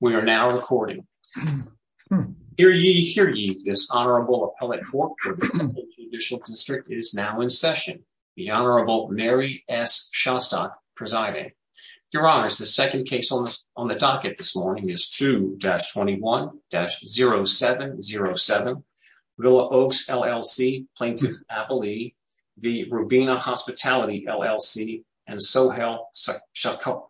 We are now recording. Hear ye, hear ye, this Honorable Appellate Court of the Judicial District is now in session. The Honorable Mary S. Shostok presiding. Your honors, the second case on the docket this morning is 2-21-0707. Will Oaks, LLC, Plaintiff Appellee v. Rubina Hospitality, LLC and Sohail Shakur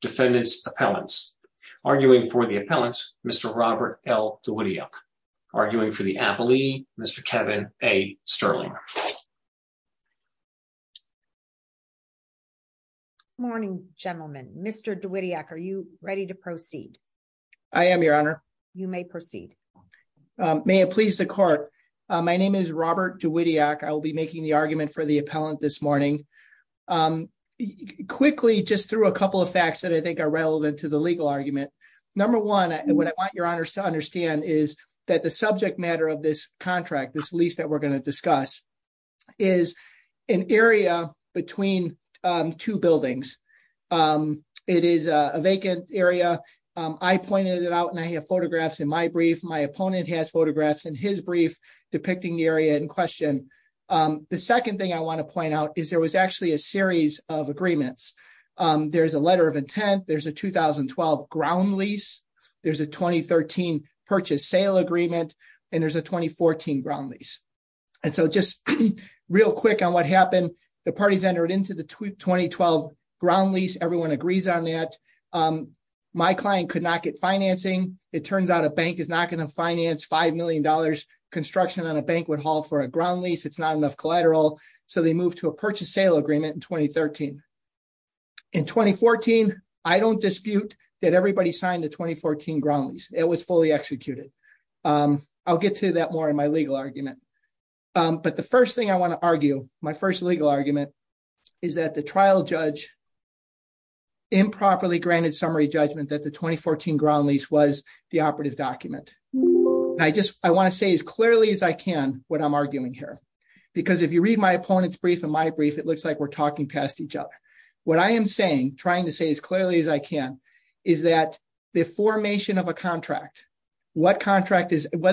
Defendant's Appellants. Arguing for the appellant, Mr. Robert L. Dwitiak. Arguing for the appellee, Mr. Kevin A. Sterling. Morning, gentlemen. Mr. Dwitiak, are you ready to proceed? I am, your honor. You may proceed. May it please the court. My name is Robert Dwitiak. I will be making the argument for the appellant this morning. Quickly, just through a couple of facts that I think are relevant to the legal argument. Number one, what I want your honors to understand is that the subject matter of this contract, this lease that we're going to discuss, is an area between two buildings. It is a vacant area. I pointed it out and I have photographs in my brief. My opponent has photographs in his brief depicting the area in question. The second thing I want to point out is there was actually a series of agreements. There's a letter of intent. There's a 2012 ground lease. There's a 2013 purchase sale agreement. And there's a 2014 ground lease. And so just real quick on what happened, the parties entered into the 2012 ground lease. Everyone agrees on that. My client could not get financing. It turns out a bank is not going to finance $5 million construction on a banquet hall for a ground lease. It's not enough collateral. So they moved to a purchase sale agreement in 2013. In 2014, I don't dispute that everybody signed the 2014 ground lease. It was fully executed. I'll get to that more in my legal argument. But the first thing I want to argue, my first legal argument, is that the trial judge improperly granted summary judgment that the 2014 ground lease was the operative document. I want to say as clearly as I can what I'm arguing here. Because if you read my opponent's brief and my brief, it looks like we're talking past each other. What I am saying, trying to say as clearly as I can, is that the formation of a contract, whether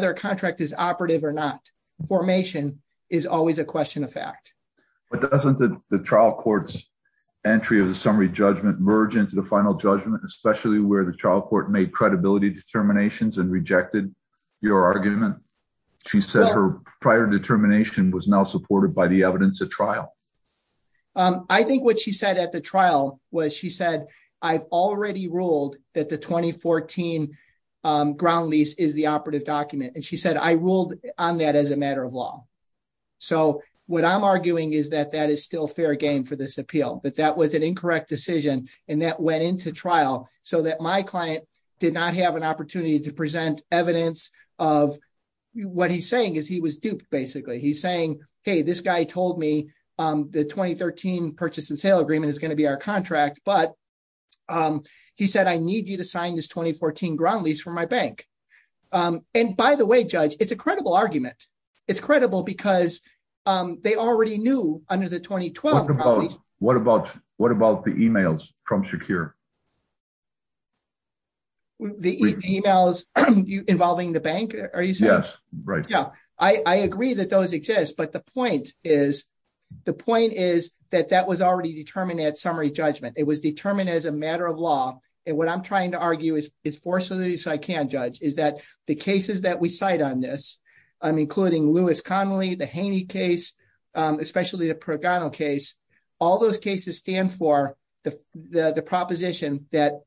a contract is operative or not, formation is always a question of fact. But doesn't the trial court's entry of the summary judgment merge into the final judgment, especially where the trial court made credibility determinations and rejected your argument? She said her prior determination was now supported by the evidence of trial. I think what she said at the trial was she said, I've already ruled that the 2014 ground lease is the operative document. And she said, I ruled on that as a matter of law. So what I'm arguing is that that is still fair game for this appeal. But that was an incorrect decision. And that went into trial so that my client did not have an opportunity to present evidence of what he's saying is he was duped, basically. He's saying, hey, this guy told me the 2013 purchase and sale agreement is going to be our contract. But he said, I need you to sign this 2014 ground lease for my bank. And by the way, Judge, it's a credible argument. It's credible because they already knew under the 2012 ground lease. What about the emails from Shakir? The emails involving the bank, are you saying? Yes, right. Yeah, I agree that those exist. But the point is, the point is that that was already determined at summary judgment. It was determined as a matter of law. And what I'm trying to argue is, as far as I can judge, is that the cases that we cite on this, including Lewis Connolly, the Haney case, especially the Progano case, all those cases stand for the proposition that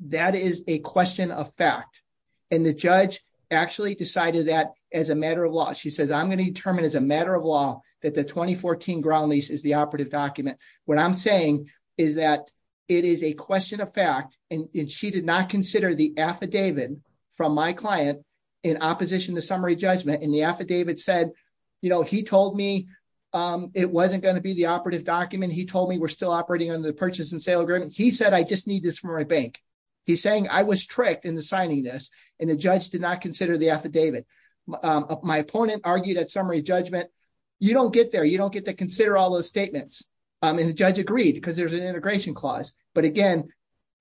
that is a question of fact. And the judge actually decided that as a matter of law, she says, I'm going to determine as a matter of law that the 2014 ground lease is the operative document. What I'm saying is that it is a question of fact. And she did not consider the affidavit from my client in opposition to summary judgment. And the affidavit said, you know, he told me it wasn't going to be the operative document. He told me we're still operating on the purchase and sale agreement. He said, I just need this from my bank. He's saying I was tricked into signing this and the judge did not consider the affidavit. My opponent argued at summary judgment, you don't get there. You don't get to consider all those statements. And the judge agreed because there's an integration clause. But again,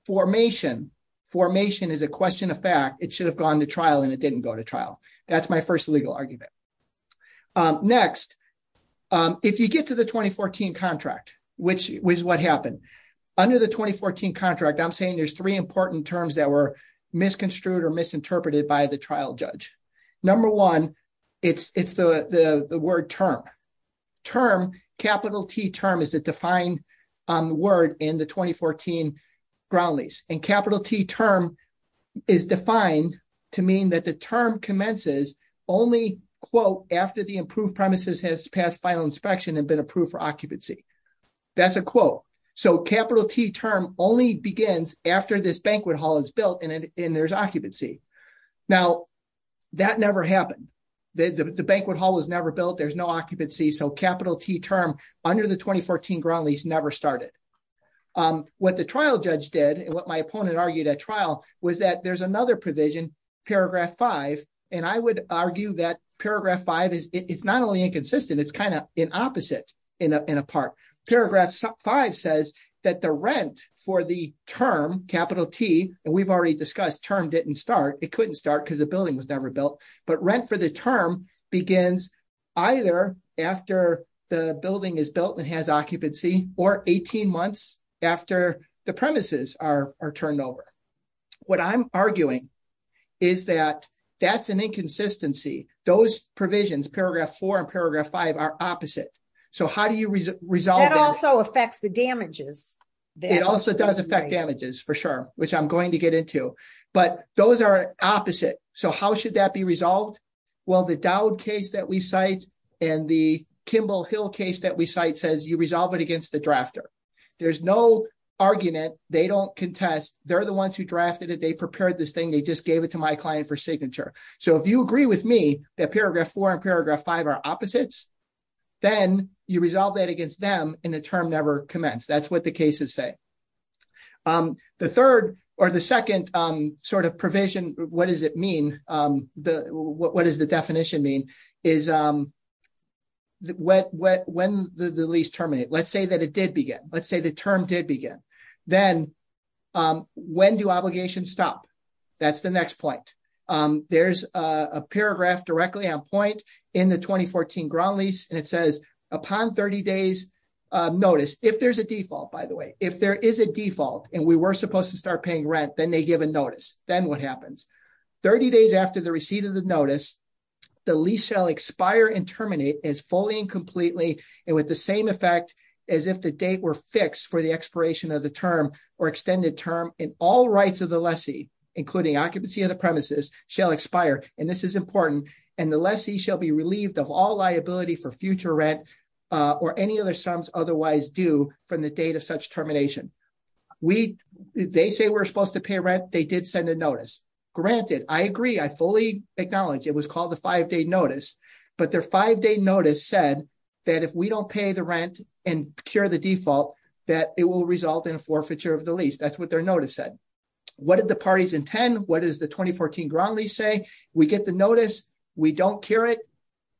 formation, formation is a question of fact. It should have gone to trial and it didn't go to trial. That's my first legal argument. Next, if you get to the 2014 contract, which was what happened under the 2014 contract, I'm saying there's three important terms that were misconstrued or misinterpreted by the trial judge. Number one, it's the word term. Term, capital T term is a defined word in the 2014 ground lease. And capital T term is defined to mean that the term commences only, quote, after the approved premises has passed final inspection and been approved for occupancy. That's a quote. So capital T term only begins after this banquet hall is built and there's occupancy. Now, that never happened. The banquet hall was never built. There's no occupancy. So capital T term under the 2014 ground lease never started. What the trial judge did and what my opponent argued at trial was that there's another provision, paragraph five. And I would argue that paragraph five, it's not only inconsistent, it's kind of an opposite in a part. Paragraph five says that the rent for the term, capital T, and we've already discussed term didn't start. It couldn't start because the building was never built. But rent for the term begins either after the building is built and has occupancy or 18 months after the premises are turned over. What I'm arguing is that that's an inconsistency. Those provisions, paragraph four and paragraph five are opposite. So how do you resolve that? That also affects the damages. It also does affect damages for sure, which I'm going to get into. But those are opposite. So how should that be resolved? Well, the Dowd case that we cite and the Kimball Hill case that we cite, there's no argument. They don't contest. They're the ones who drafted it. They prepared this thing. They just gave it to my client for signature. So if you agree with me that paragraph four and paragraph five are opposites, then you resolve that against them and the term never commenced. That's what the cases say. The third or the second sort of provision, what does it mean? What does the definition mean is when the lease terminate? Let's say that it began. Let's say the term did begin. Then when do obligations stop? That's the next point. There's a paragraph directly on point in the 2014 ground lease and it says, upon 30 days notice, if there's a default, by the way, if there is a default and we were supposed to start paying rent, then they give a notice. Then what happens? 30 days after the receipt of the notice, the lease shall expire and terminate as fully and completely and with the same effect as if the date were fixed for the expiration of the term or extended term in all rights of the lessee, including occupancy of the premises shall expire. And this is important. And the lessee shall be relieved of all liability for future rent or any other sums otherwise due from the date of such termination. They say we're supposed to pay rent. They did send a notice. Granted, I agree. I fully acknowledge it was called the five-day notice, but their five-day notice said that if we don't pay the rent and procure the default, that it will result in a forfeiture of the lease. That's what their notice said. What did the parties intend? What does the 2014 ground lease say? We get the notice. We don't cure it.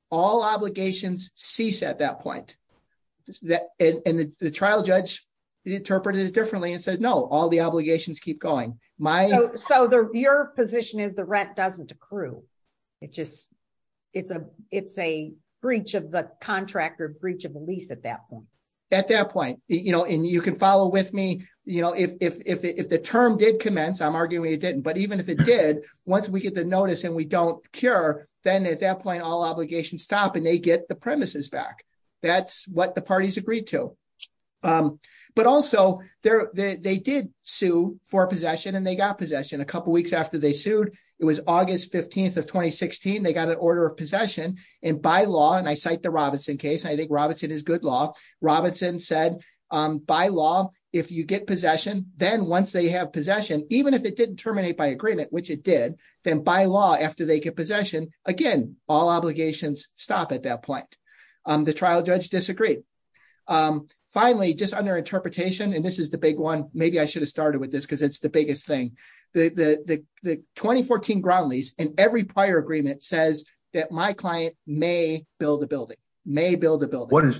All obligations cease at that point. And the trial judge interpreted it differently and said, no, all the obligations keep going. So your position is the rent doesn't accrue. It's a breach of the contract or breach of the lease at that point. At that point. And you can follow with me. If the term did commence, I'm arguing it didn't. But even if it did, once we get the notice and we don't cure, then at that point, all obligations stop and they get the premises back. That's what the parties agreed to. But also they did sue for possession and they got possession a couple of weeks after they sued. It was August 15th of 2016. They got an order of possession. And by law, and I cite the Robinson case, I think Robinson is good law. Robinson said, by law, if you get possession, then once they have possession, even if it didn't terminate by agreement, which it did, then by law, after they get possession, again, all obligations stop at that point. The trial judge disagreed. Finally, just under interpretation, and this is the big one, maybe I should have started with this because it's the biggest thing. The 2014 ground lease and every prior agreement says that my client may build a building, may build a building.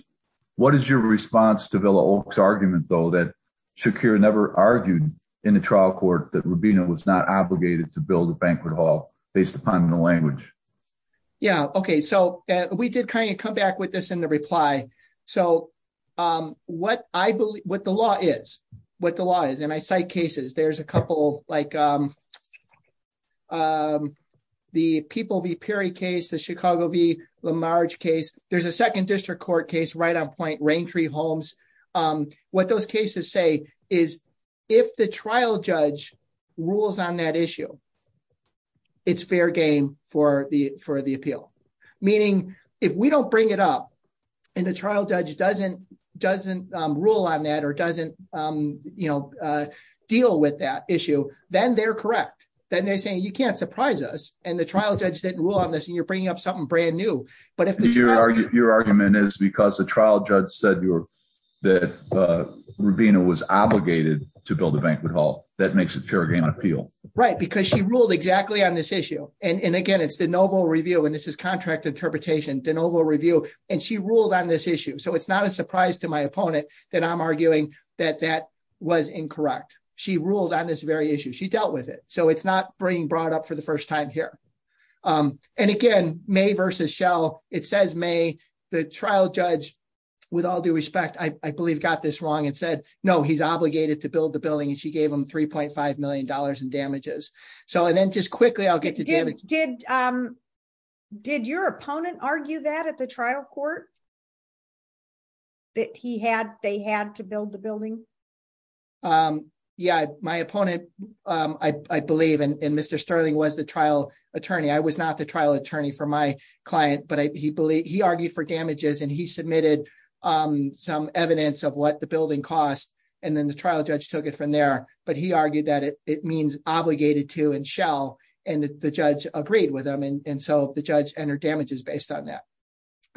What is your response to Villa Oaks argument though, that Shakira never argued in the trial court that Rubina was not obligated to build a banquet hall based upon the language? Yeah. Okay. So we did kind of come back with this in the reply. So what the law is, what the law is, and I cite cases, there's a couple like the People v. Perry case, the Chicago v. Lamarge case. There's a second district court case right on point, Raintree Homes. What those cases say is if the trial judge rules on that issue, it's fair game for the appeal. Meaning if we don't bring it up and the trial judge doesn't rule on that or doesn't deal with that issue, then they're correct. Then they're saying, you can't surprise us, and the trial judge didn't rule on this and you're bringing up something brand new. But if the trial- that Rubina was obligated to build a banquet hall, that makes it fair game on appeal. Right. Because she ruled exactly on this issue. And again, it's de novo review, and this is contract interpretation, de novo review, and she ruled on this issue. So it's not a surprise to my opponent that I'm arguing that that was incorrect. She ruled on this very issue. She dealt with it. So it's not being brought up for the first time here. And again, May versus Shell, it says May. The trial judge, with all due respect, I believe got this wrong and said, no, he's obligated to build the building. And she gave him $3.5 million in damages. So and then just quickly, I'll get to- Did your opponent argue that at the trial court? That they had to build the building? Yeah, my opponent, I believe, and Mr. Trial Attorney for my client, but he argued for damages, and he submitted some evidence of what the building cost. And then the trial judge took it from there. But he argued that it means obligated to and Shell, and the judge agreed with him. And so the judge entered damages based on that.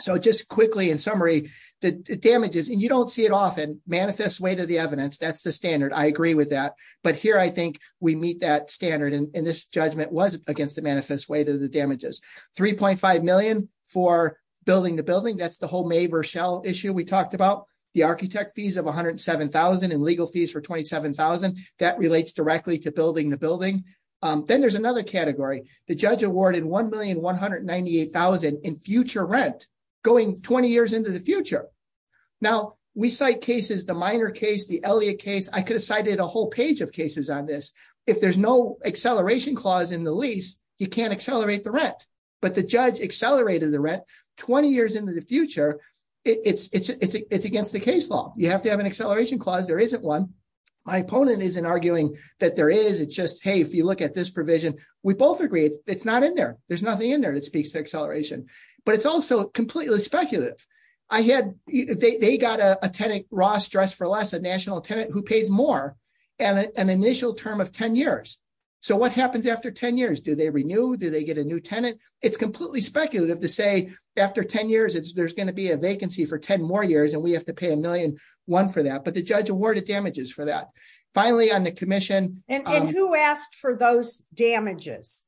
So just quickly, in summary, the damages, and you don't see it often, manifest way to the evidence. That's the standard. I agree with that. But here, I think we meet that standard. And this $3.5 million for building the building, that's the whole May versus Shell issue we talked about, the architect fees of $107,000 and legal fees for $27,000. That relates directly to building the building. Then there's another category, the judge awarded $1,198,000 in future rent, going 20 years into the future. Now, we cite cases, the Miner case, the Elliott case, I could have cited a whole page of cases on this. If there's no acceleration clause in the lease, you can't accelerate the rent. But the judge accelerated the rent 20 years into the future. It's against the case law, you have to have an acceleration clause, there isn't one. My opponent isn't arguing that there is, it's just, hey, if you look at this provision, we both agree, it's not in there. There's nothing in there that speaks to acceleration. But it's also completely speculative. They got a tenant, Ross Dress for Less, a national tenant who pays more, and an initial term of 10 years. So what happens after 10 years? Do they renew? Do they get a new tenant? It's completely speculative to say, after 10 years, there's going to be a vacancy for 10 more years, and we have to pay $1,000,000 for that. But the judge awarded damages for that. Finally, on the commission- And who asked for those damages?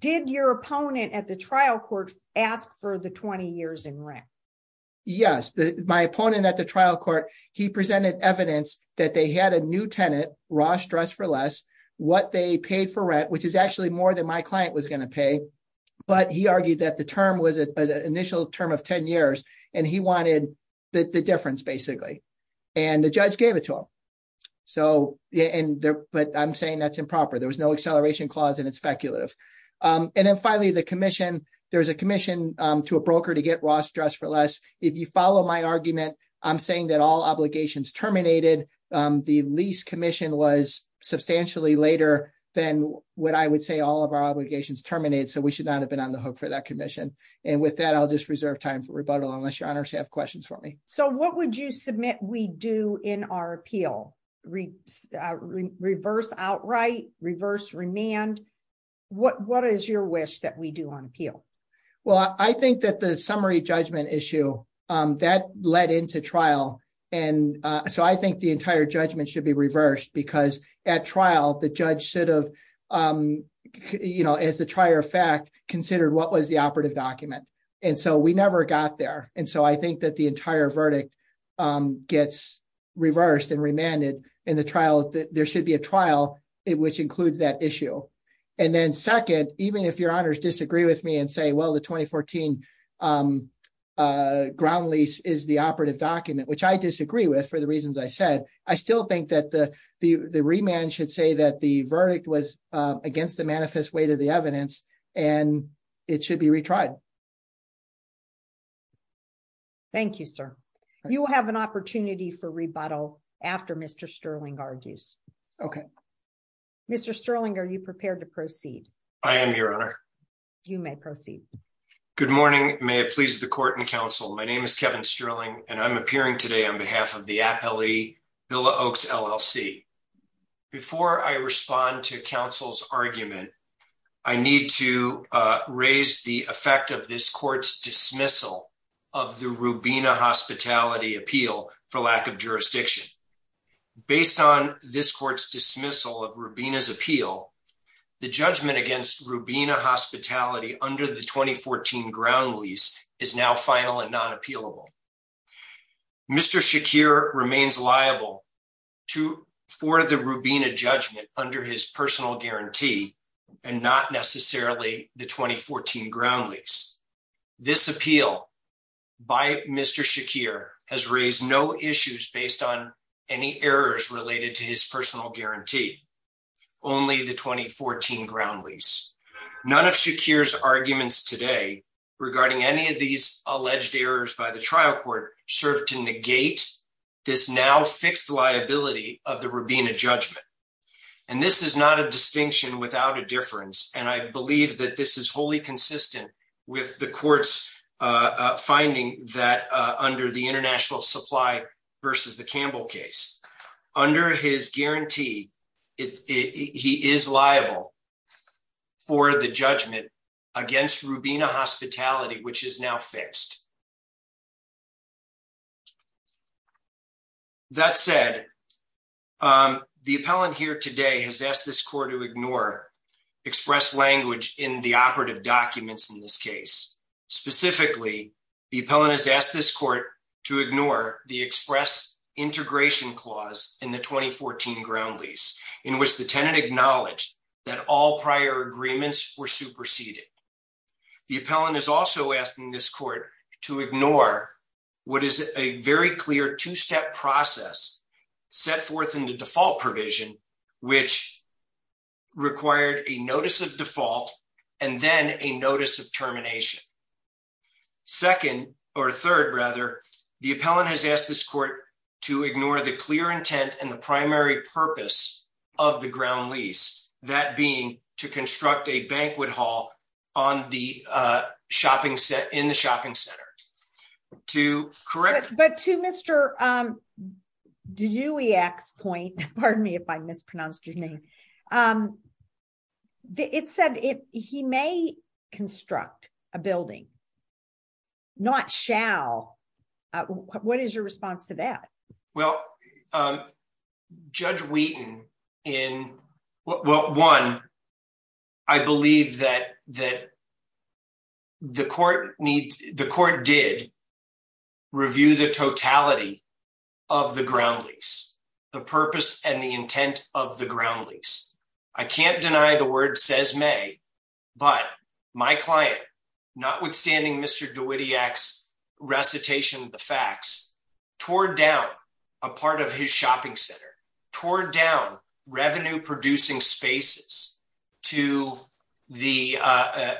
Did your opponent at the trial court ask for the 20 years in rent? Yes, my opponent at the trial court, he presented evidence that they had a new tenant, Ross Dress for Less, what they paid for rent, which is actually more than my client was going to pay. But he argued that the term was an initial term of 10 years, and he wanted the difference, basically. And the judge gave it to him. But I'm saying that's improper, there was no acceleration clause, and it's speculative. And then finally, the commission, there's a commission to a broker to get Ross Dress for Less. If you follow my argument, I'm saying that all obligations terminated. The lease commission was substantially later than what I would say all of our obligations terminated, so we should not have been on the hook for that commission. And with that, I'll just reserve time for rebuttal unless your honors have questions for me. So what would you submit we do in our appeal? Reverse outright, reverse remand? What is your wish that we do on appeal? Well, I think that the summary judgment issue, that led into trial. And so I think the entire judgment should be reversed because at trial, the judge should have, you know, as the trier of fact, considered what was the operative document. And so we never got there. And so I think that the entire verdict gets reversed and remanded in the trial, there should be a trial, which includes that issue. And then second, even if your honors disagree with me and say, well, the 2014 ground lease is the operative document, which I disagree with, for the reasons I said, I still think that the remand should say that the verdict was against the manifest weight of the evidence, and it should be retried. Thank you, sir. You will have an opportunity for Mr. Sterling, are you prepared to proceed? I am your honor. You may proceed. Good morning. May it please the court and counsel. My name is Kevin Sterling, and I'm appearing today on behalf of the appellee Villa Oaks LLC. Before I respond to counsel's argument, I need to raise the effect of this court's dismissal of the Rubina hospitality appeal for lack of jurisdiction. Based on this court's dismissal of Rubina's appeal, the judgment against Rubina hospitality under the 2014 ground lease is now final and not appealable. Mr. Shakir remains liable for the Rubina judgment under his personal guarantee, and not necessarily the 2014 ground lease. This appeal by Mr. Shakir has raised no issues based on any errors related to his personal guarantee, only the 2014 ground lease. None of Shakir's arguments today regarding any of these alleged errors by the trial court serve to negate this now fixed liability of the Rubina judgment. And this is not a distinction without a difference. And I believe that this is wholly consistent with the court's finding that under the international supply versus the Campbell case, under his guarantee, he is liable for the judgment against Rubina hospitality, which is now fixed. That said, the appellant here today has asked this court to ignore express language in the operative documents in this case. Specifically, the appellant has asked this court to ignore the express integration clause in the 2014 ground lease, in which the tenant acknowledged that all prior agreements were superseded. The appellant is also asking this court to ignore what is a very clear two-step process set forth in the default provision, which required a notice of default, and then a notice of termination. Second, or third, rather, the appellant has asked this court to ignore the clear intent and the primary purpose of the ground lease, that being to construct a banquet hall in the shopping center. To correct. But to Mr. Dewey-X's point, pardon me if I mispronounced your name, it said he may construct a building, not shall. What is your response to that? Well, Judge Wheaton in, well, one, I believe that the court did review the totality of the ground lease, the purpose and the intent of the ground lease. I can't deny the word says may, but my client, notwithstanding Mr. Dewey-X's recitation of the facts, tore down a part of his shopping center, tore down revenue-producing spaces to the,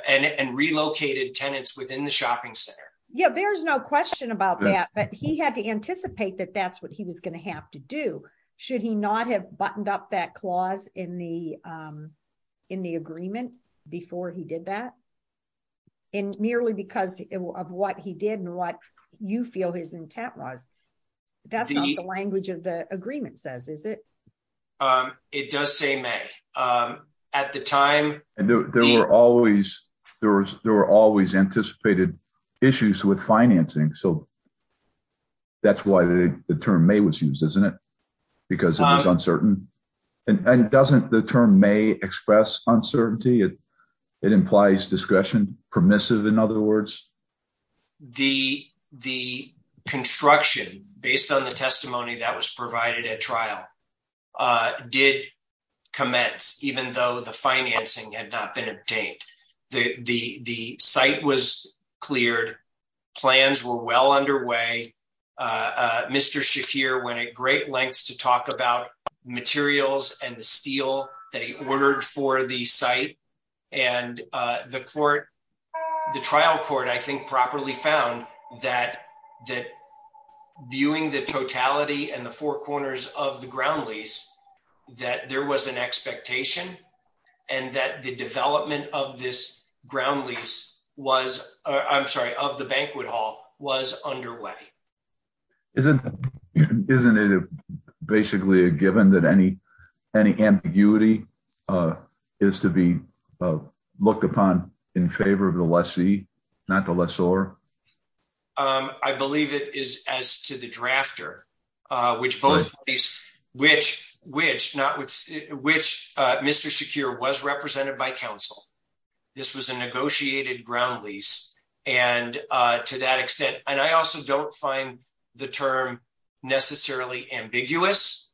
and relocated tenants within the shopping center. Yeah, there's no question about that, but he had to anticipate that that's what he was going to have to do. Should he not have buttoned up that clause in the agreement before he did that? And merely because of what he did and what you feel his intent was. That's not the language of the agreement says, is it? It does say may. At the time- There were always anticipated issues with financing. So that's why the term may was used, isn't it? Because it was uncertain. And doesn't the term may express uncertainty? It implies discretion. Permissive, in other words. The construction, based on the testimony that was provided at trial, did commence, even though the financing had not been obtained. The site was cleared. Plans were well underway. Mr. Shakir went at great lengths to talk about materials and the steel that he ordered for the site. And the court, the trial court, I think properly found that viewing the totality and the four corners of the ground lease, that there was an expectation and that the development of this ground lease was, I'm sorry, of the banquet hall was underway. Isn't it basically a given that any ambiguity is to be looked upon in favor of the lessee, not the lessor? I believe it is as to the drafter, which Mr. Shakir was represented by council. This was a negotiated ground lease. And to that extent, and I also don't find the term necessarily ambiguous,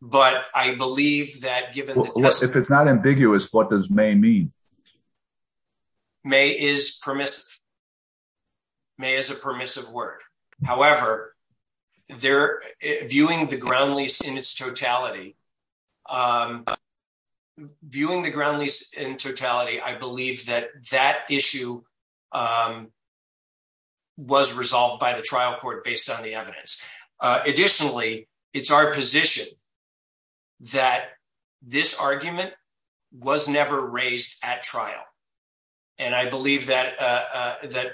but I believe that given- If it's not ambiguous, what does may mean? May is permissive. May is a permissive word. However, viewing the ground lease in its totality, viewing the ground lease in totality, I believe that that issue was resolved by the trial court based on the evidence. Additionally, it's our position that this argument was never raised at trial. And I believe that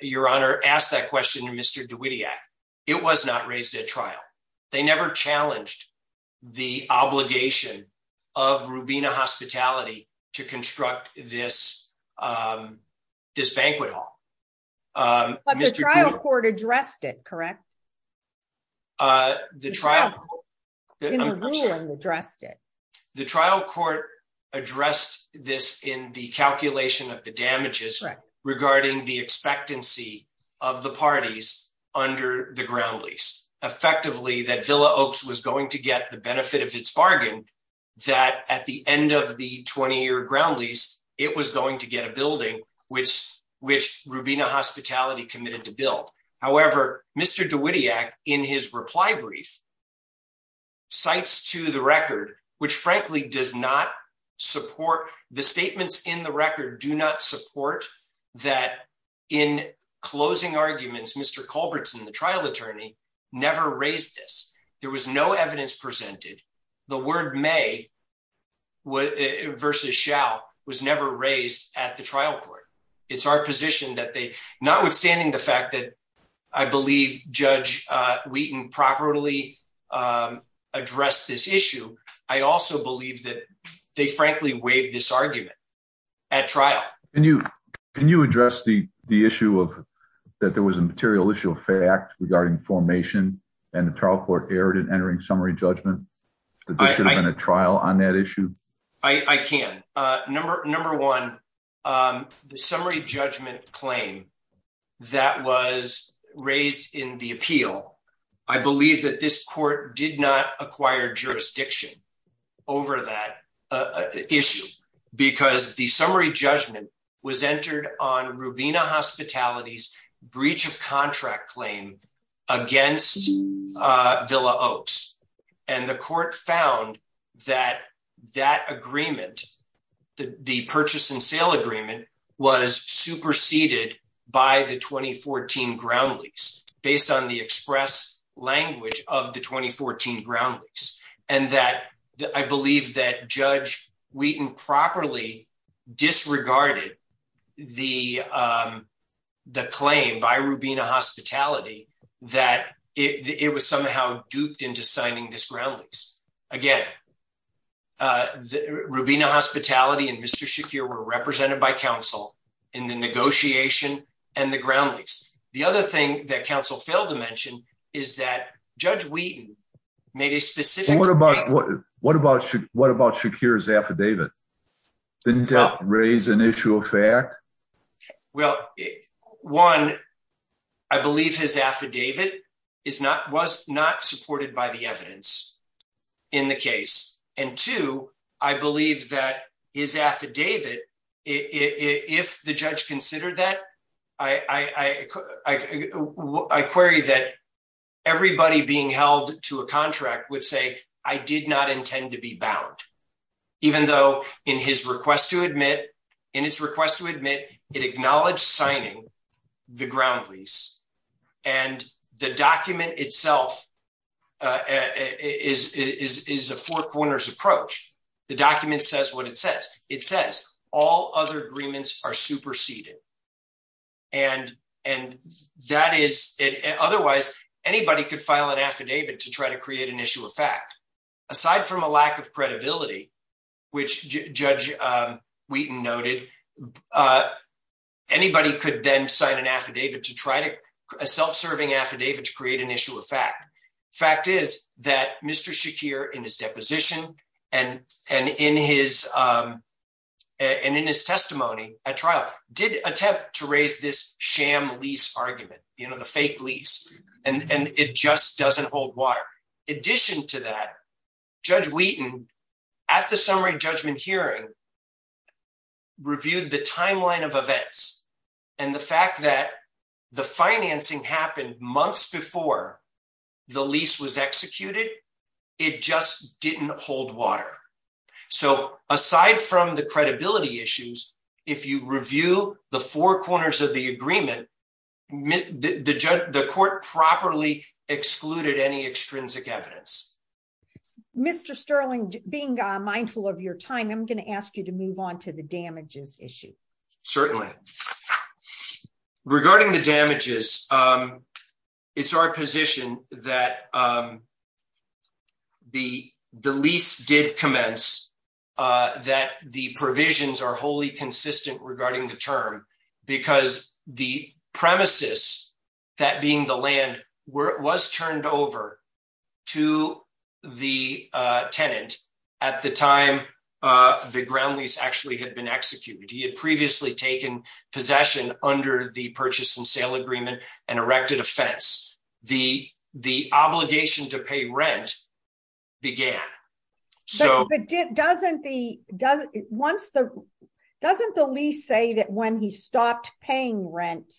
your honor asked that question to Mr. DeWittiak. It was not raised at trial. They never challenged the obligation of Rubina Hospitality to construct this banquet hall. But the trial court addressed it, correct? The trial court in the ruling addressed it. The trial court addressed this in the calculation of the damages regarding the expectancy of the parties under the ground lease. Effectively, that Villa Oaks was going to get the benefit of its bargain, that at the end of the 20-year ground lease, it was going to get a building, which Rubina Hospitality committed to build. However, Mr. DeWittiak, in his reply brief, cites to the record, which frankly does not support, that in closing arguments, Mr. Culbertson, the trial attorney, never raised this. There was no evidence presented. The word may versus shall was never raised at the trial court. It's our position that they, notwithstanding the fact that I believe Judge Wheaton properly addressed this issue, I also believe that they frankly waived this argument at trial. Can you address the issue that there was a material issue of fact regarding formation and the trial court erred in entering summary judgment? There should have been a trial on that issue. I can. Number one, the summary judgment claim that was raised in the appeal, I believe that this court did not acquire jurisdiction over that issue because the summary judgment was entered on Rubina Hospitality's breach of contract claim against Villa Oaks. The court found that that agreement, the purchase and sale agreement, was superseded by the 2014 ground lease, based on the express language of the 2014 ground lease, and that I believe that Judge Wheaton properly disregarded the claim by Rubina Hospitality that it was somehow duped into signing this ground lease. Again, Rubina Hospitality and Mr. Counsel in the negotiation and the ground lease. The other thing that Counsel failed to mention is that Judge Wheaton made a specific- What about Shakir's affidavit? Didn't that raise an issue of fact? Well, one, I believe his affidavit was not supported by the evidence in the case, and two, I believe that his affidavit, if the judge considered that, I query that everybody being held to a contract would say, I did not intend to be bound, even though in his request to admit, it acknowledged signing the ground lease. The document itself is a four corners approach. The document says what it says. It says all other agreements are superseded. Otherwise, anybody could file an affidavit to try to create an issue of fact. Aside from a lack of credibility, which Judge Wheaton noted, anybody could then sign an affidavit to try to- A self-serving affidavit to create an issue of fact. The fact is that Mr. Shakir, in his deposition and in his testimony at trial, did attempt to raise this sham lease argument, the fake lease, and it just doesn't hold water. In addition to that, Judge Wheaton, at the summary judgment hearing, reviewed the timeline of events. The fact that the financing happened months before the lease was executed, it just didn't hold water. Aside from the credibility issues, if you review the four corners of the agreement, the court properly excluded any extrinsic evidence. Mr. Sterling, being mindful of your time, I'm going to ask you to move on to the damages issue. Certainly. Regarding the damages, it's our position that the lease did commence, that the provisions are wholly consistent regarding the term, because the premises, that being the land, was turned over to the tenant at the time the ground lease actually had been executed. He had previously taken possession under the purchase and sale agreement and erected a fence. The obligation to pay rent began. Doesn't the lease say that when he stopped paying rent,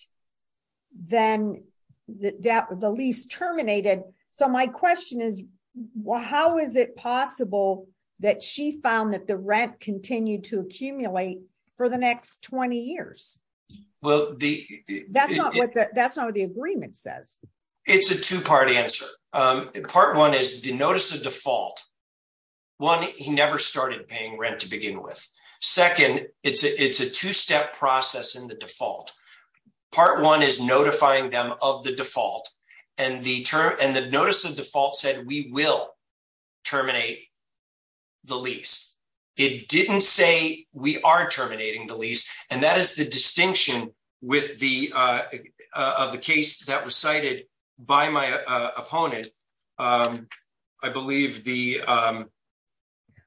then the lease terminated? My question is, how is it possible that she found that the rent continued to accumulate for the next 20 years? Well, that's not what the agreement says. It's a two-part answer. Part one is the notice of default. One, he never started paying rent to begin with. Second, it's a two-step process in the default. Part one is notifying them of the default, and the notice of default said we will terminate the lease. It didn't say we are terminating the lease, and that is the distinction of the case that was cited by my opponent. I believe the...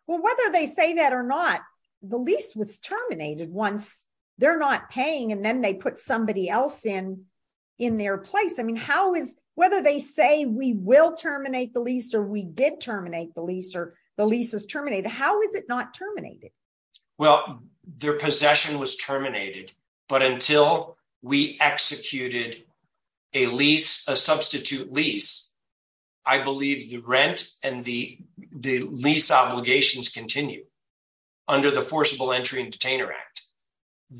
Well, whether they say that or not, the lease was terminated once they're not paying, and then they put somebody else in their place. I mean, whether they say we will terminate the lease or the lease is terminated, how is it not terminated? Well, their possession was terminated, but until we executed a substitute lease, I believe the rent and the lease obligations continue under the Forcible Entry and Detainer Act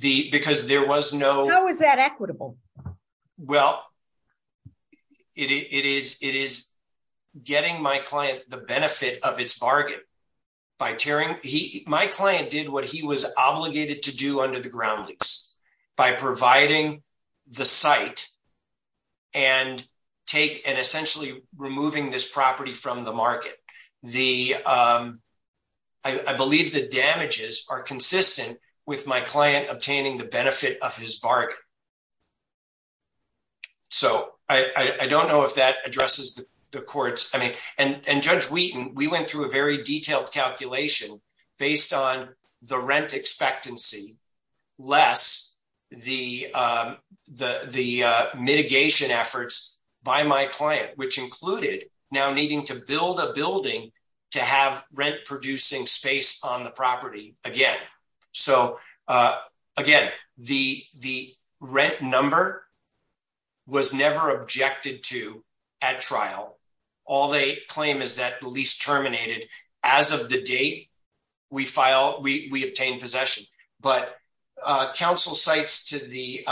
because there was no... How is that equitable? Well, it is getting my client the benefit of its bargain by tearing... My client did what he was obligated to do under the ground lease by providing the site and essentially removing this property from the market. I believe the damages are consistent with my client obtaining the benefit of his bargain. So I don't know if that addresses the courts. I mean, and Judge Wheaton, we went through a very detailed calculation based on the rent expectancy, less the mitigation efforts by my client, which included now needing to build a building to have rent-producing space on the property again. So again, the rent number was never objected to at trial. All they claim is that the lease terminated as of the date we obtained possession. But counsel cites to the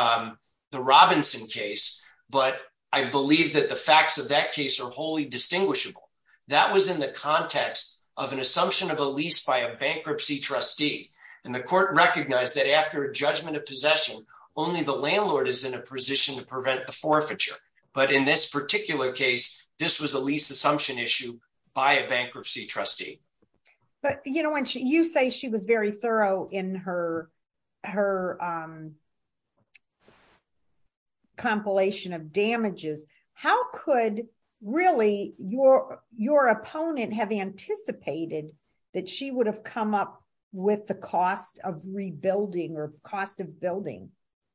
Robinson case, but I believe that the facts of that case are wholly distinguishable. That was in the context of an assumption of a lease by a bankruptcy trustee. And the court recognized that after a judgment of possession, only the landlord is in a position to prevent the forfeiture. But in this particular case, this was a lease assumption issue by a bankruptcy trustee. But when you say she was very thorough in her compilation of damages, how could really your opponent have anticipated that she would have come up with the cost of rebuilding or cost of building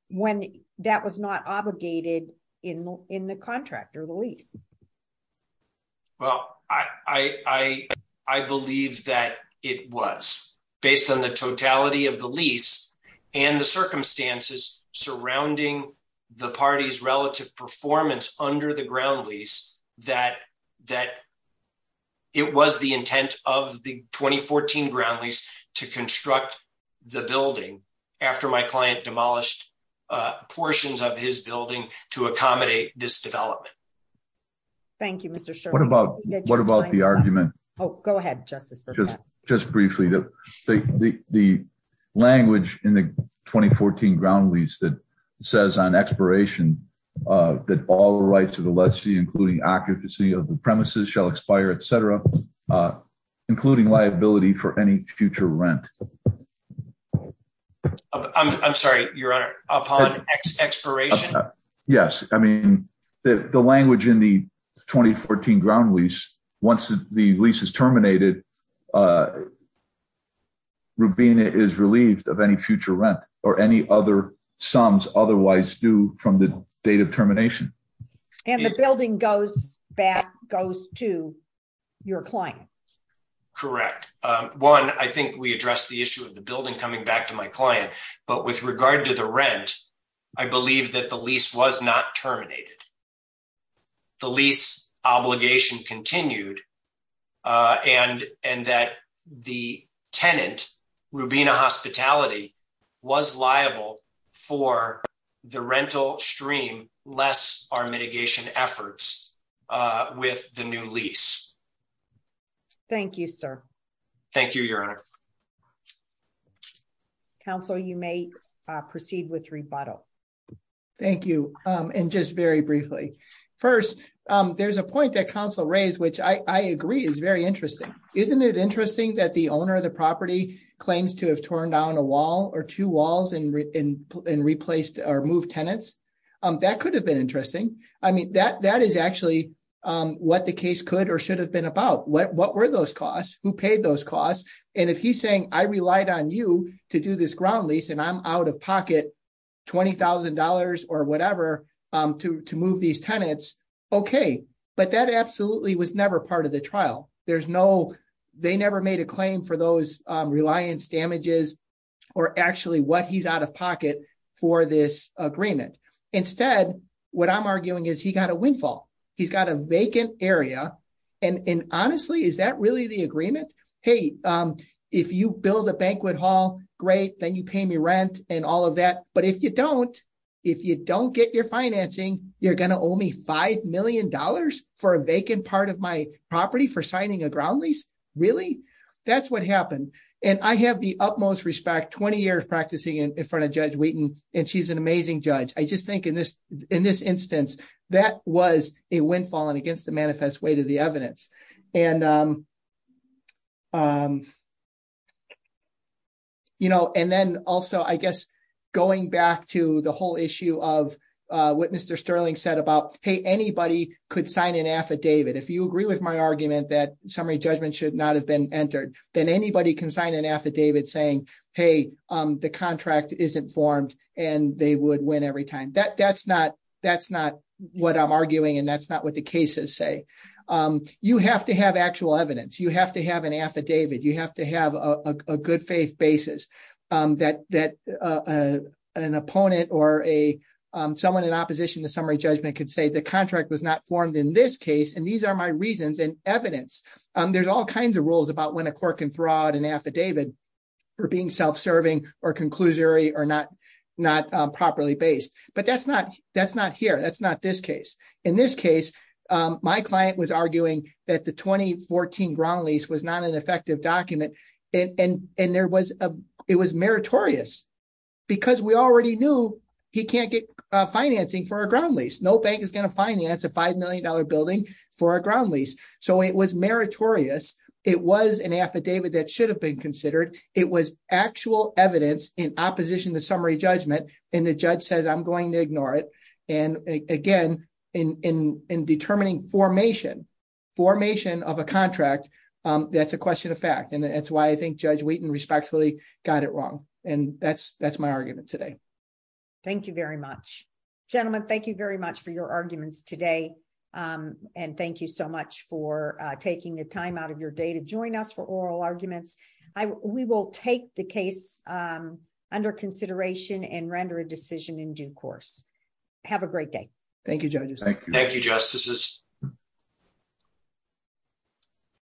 when that was not obligated in the contract or the lease? Well, I believe that it was based on the totality of the lease and the circumstances surrounding the party's relative performance under the ground lease that it was the intent of the 2014 ground lease to construct the building after my client demolished portions of his building to accommodate this development. Thank you, Mr. Sherman. What about the argument? Oh, go ahead, Justice Burkett. Just briefly, the language in the 2014 ground lease that says on expiration that all rights of the lessee, including occupancy of the premises shall expire, etc., including liability for any future rent. I'm sorry, upon expiration? Yes. I mean, the language in the 2014 ground lease, once the lease is terminated, Rubina is relieved of any future rent or any other sums otherwise due from the date of termination. And the building goes back to your client? Correct. One, I think we addressed the issue of the building coming back to my client. But with regard to the rent, I believe that the lease was not terminated. The lease obligation continued and that the tenant, Rubina Hospitality, was liable for the rental stream, less our mitigation efforts with the new lease. Thank you, sir. Thank you, Your Honor. Counsel, you may proceed with rebuttal. Thank you. And just very briefly. First, there's a point that counsel raised, which I agree is very interesting. Isn't it interesting that the owner of the property claims to have torn down a wall or two walls and replaced or tenants? That could have been interesting. I mean, that is actually what the case could or should have been about. What were those costs? Who paid those costs? And if he's saying, I relied on you to do this ground lease, and I'm out of pocket $20,000 or whatever to move these tenants. Okay. But that absolutely was never part of the trial. There's no, they never made a claim for those reliance damages or actually what he's out of pocket for this agreement. Instead, what I'm arguing is he got a windfall. He's got a vacant area. And honestly, is that really the agreement? Hey, if you build a banquet hall, great, then you pay me rent and all of that. But if you don't, if you don't get your financing, you're going to owe me $5 million for a vacant part of my property for signing a ground lease? Really? That's what happened. And I have the utmost respect 20 years practicing in front of Judge Wheaton, and she's an amazing judge. I just think in this instance, that was a windfall and against the manifest way to the evidence. And then also, I guess, going back to the whole issue of what Mr. Sterling said about, hey, anybody could sign an affidavit. If you agree with my argument that summary judgment should not have been entered, then anybody can sign an affidavit saying, hey, the contract isn't formed and they would win every time. That's not what I'm arguing, and that's not what the cases say. You have to have actual evidence. You have to have an affidavit. You have to have a good faith basis that an opponent or someone in opposition to summary judgment could say the contract was not formed in this case, and these are my reasons and for being self-serving or conclusory or not properly based. But that's not here. That's not this case. In this case, my client was arguing that the 2014 ground lease was not an effective document, and it was meritorious because we already knew he can't get financing for a ground lease. No bank is going to finance a $5 million building for a ground lease. So it was meritorious. It was an affidavit that should have been considered. It was actual evidence in opposition to summary judgment, and the judge says I'm going to ignore it. And again, in determining formation of a contract, that's a question of fact, and that's why I think Judge Wheaton respectfully got it wrong, and that's my argument today. Thank you very much. Gentlemen, thank you very much for taking the time out of your day to join us for Oral Arguments. We will take the case under consideration and render a decision in due course. Have a great day. Thank you, judges. Thank you, justices.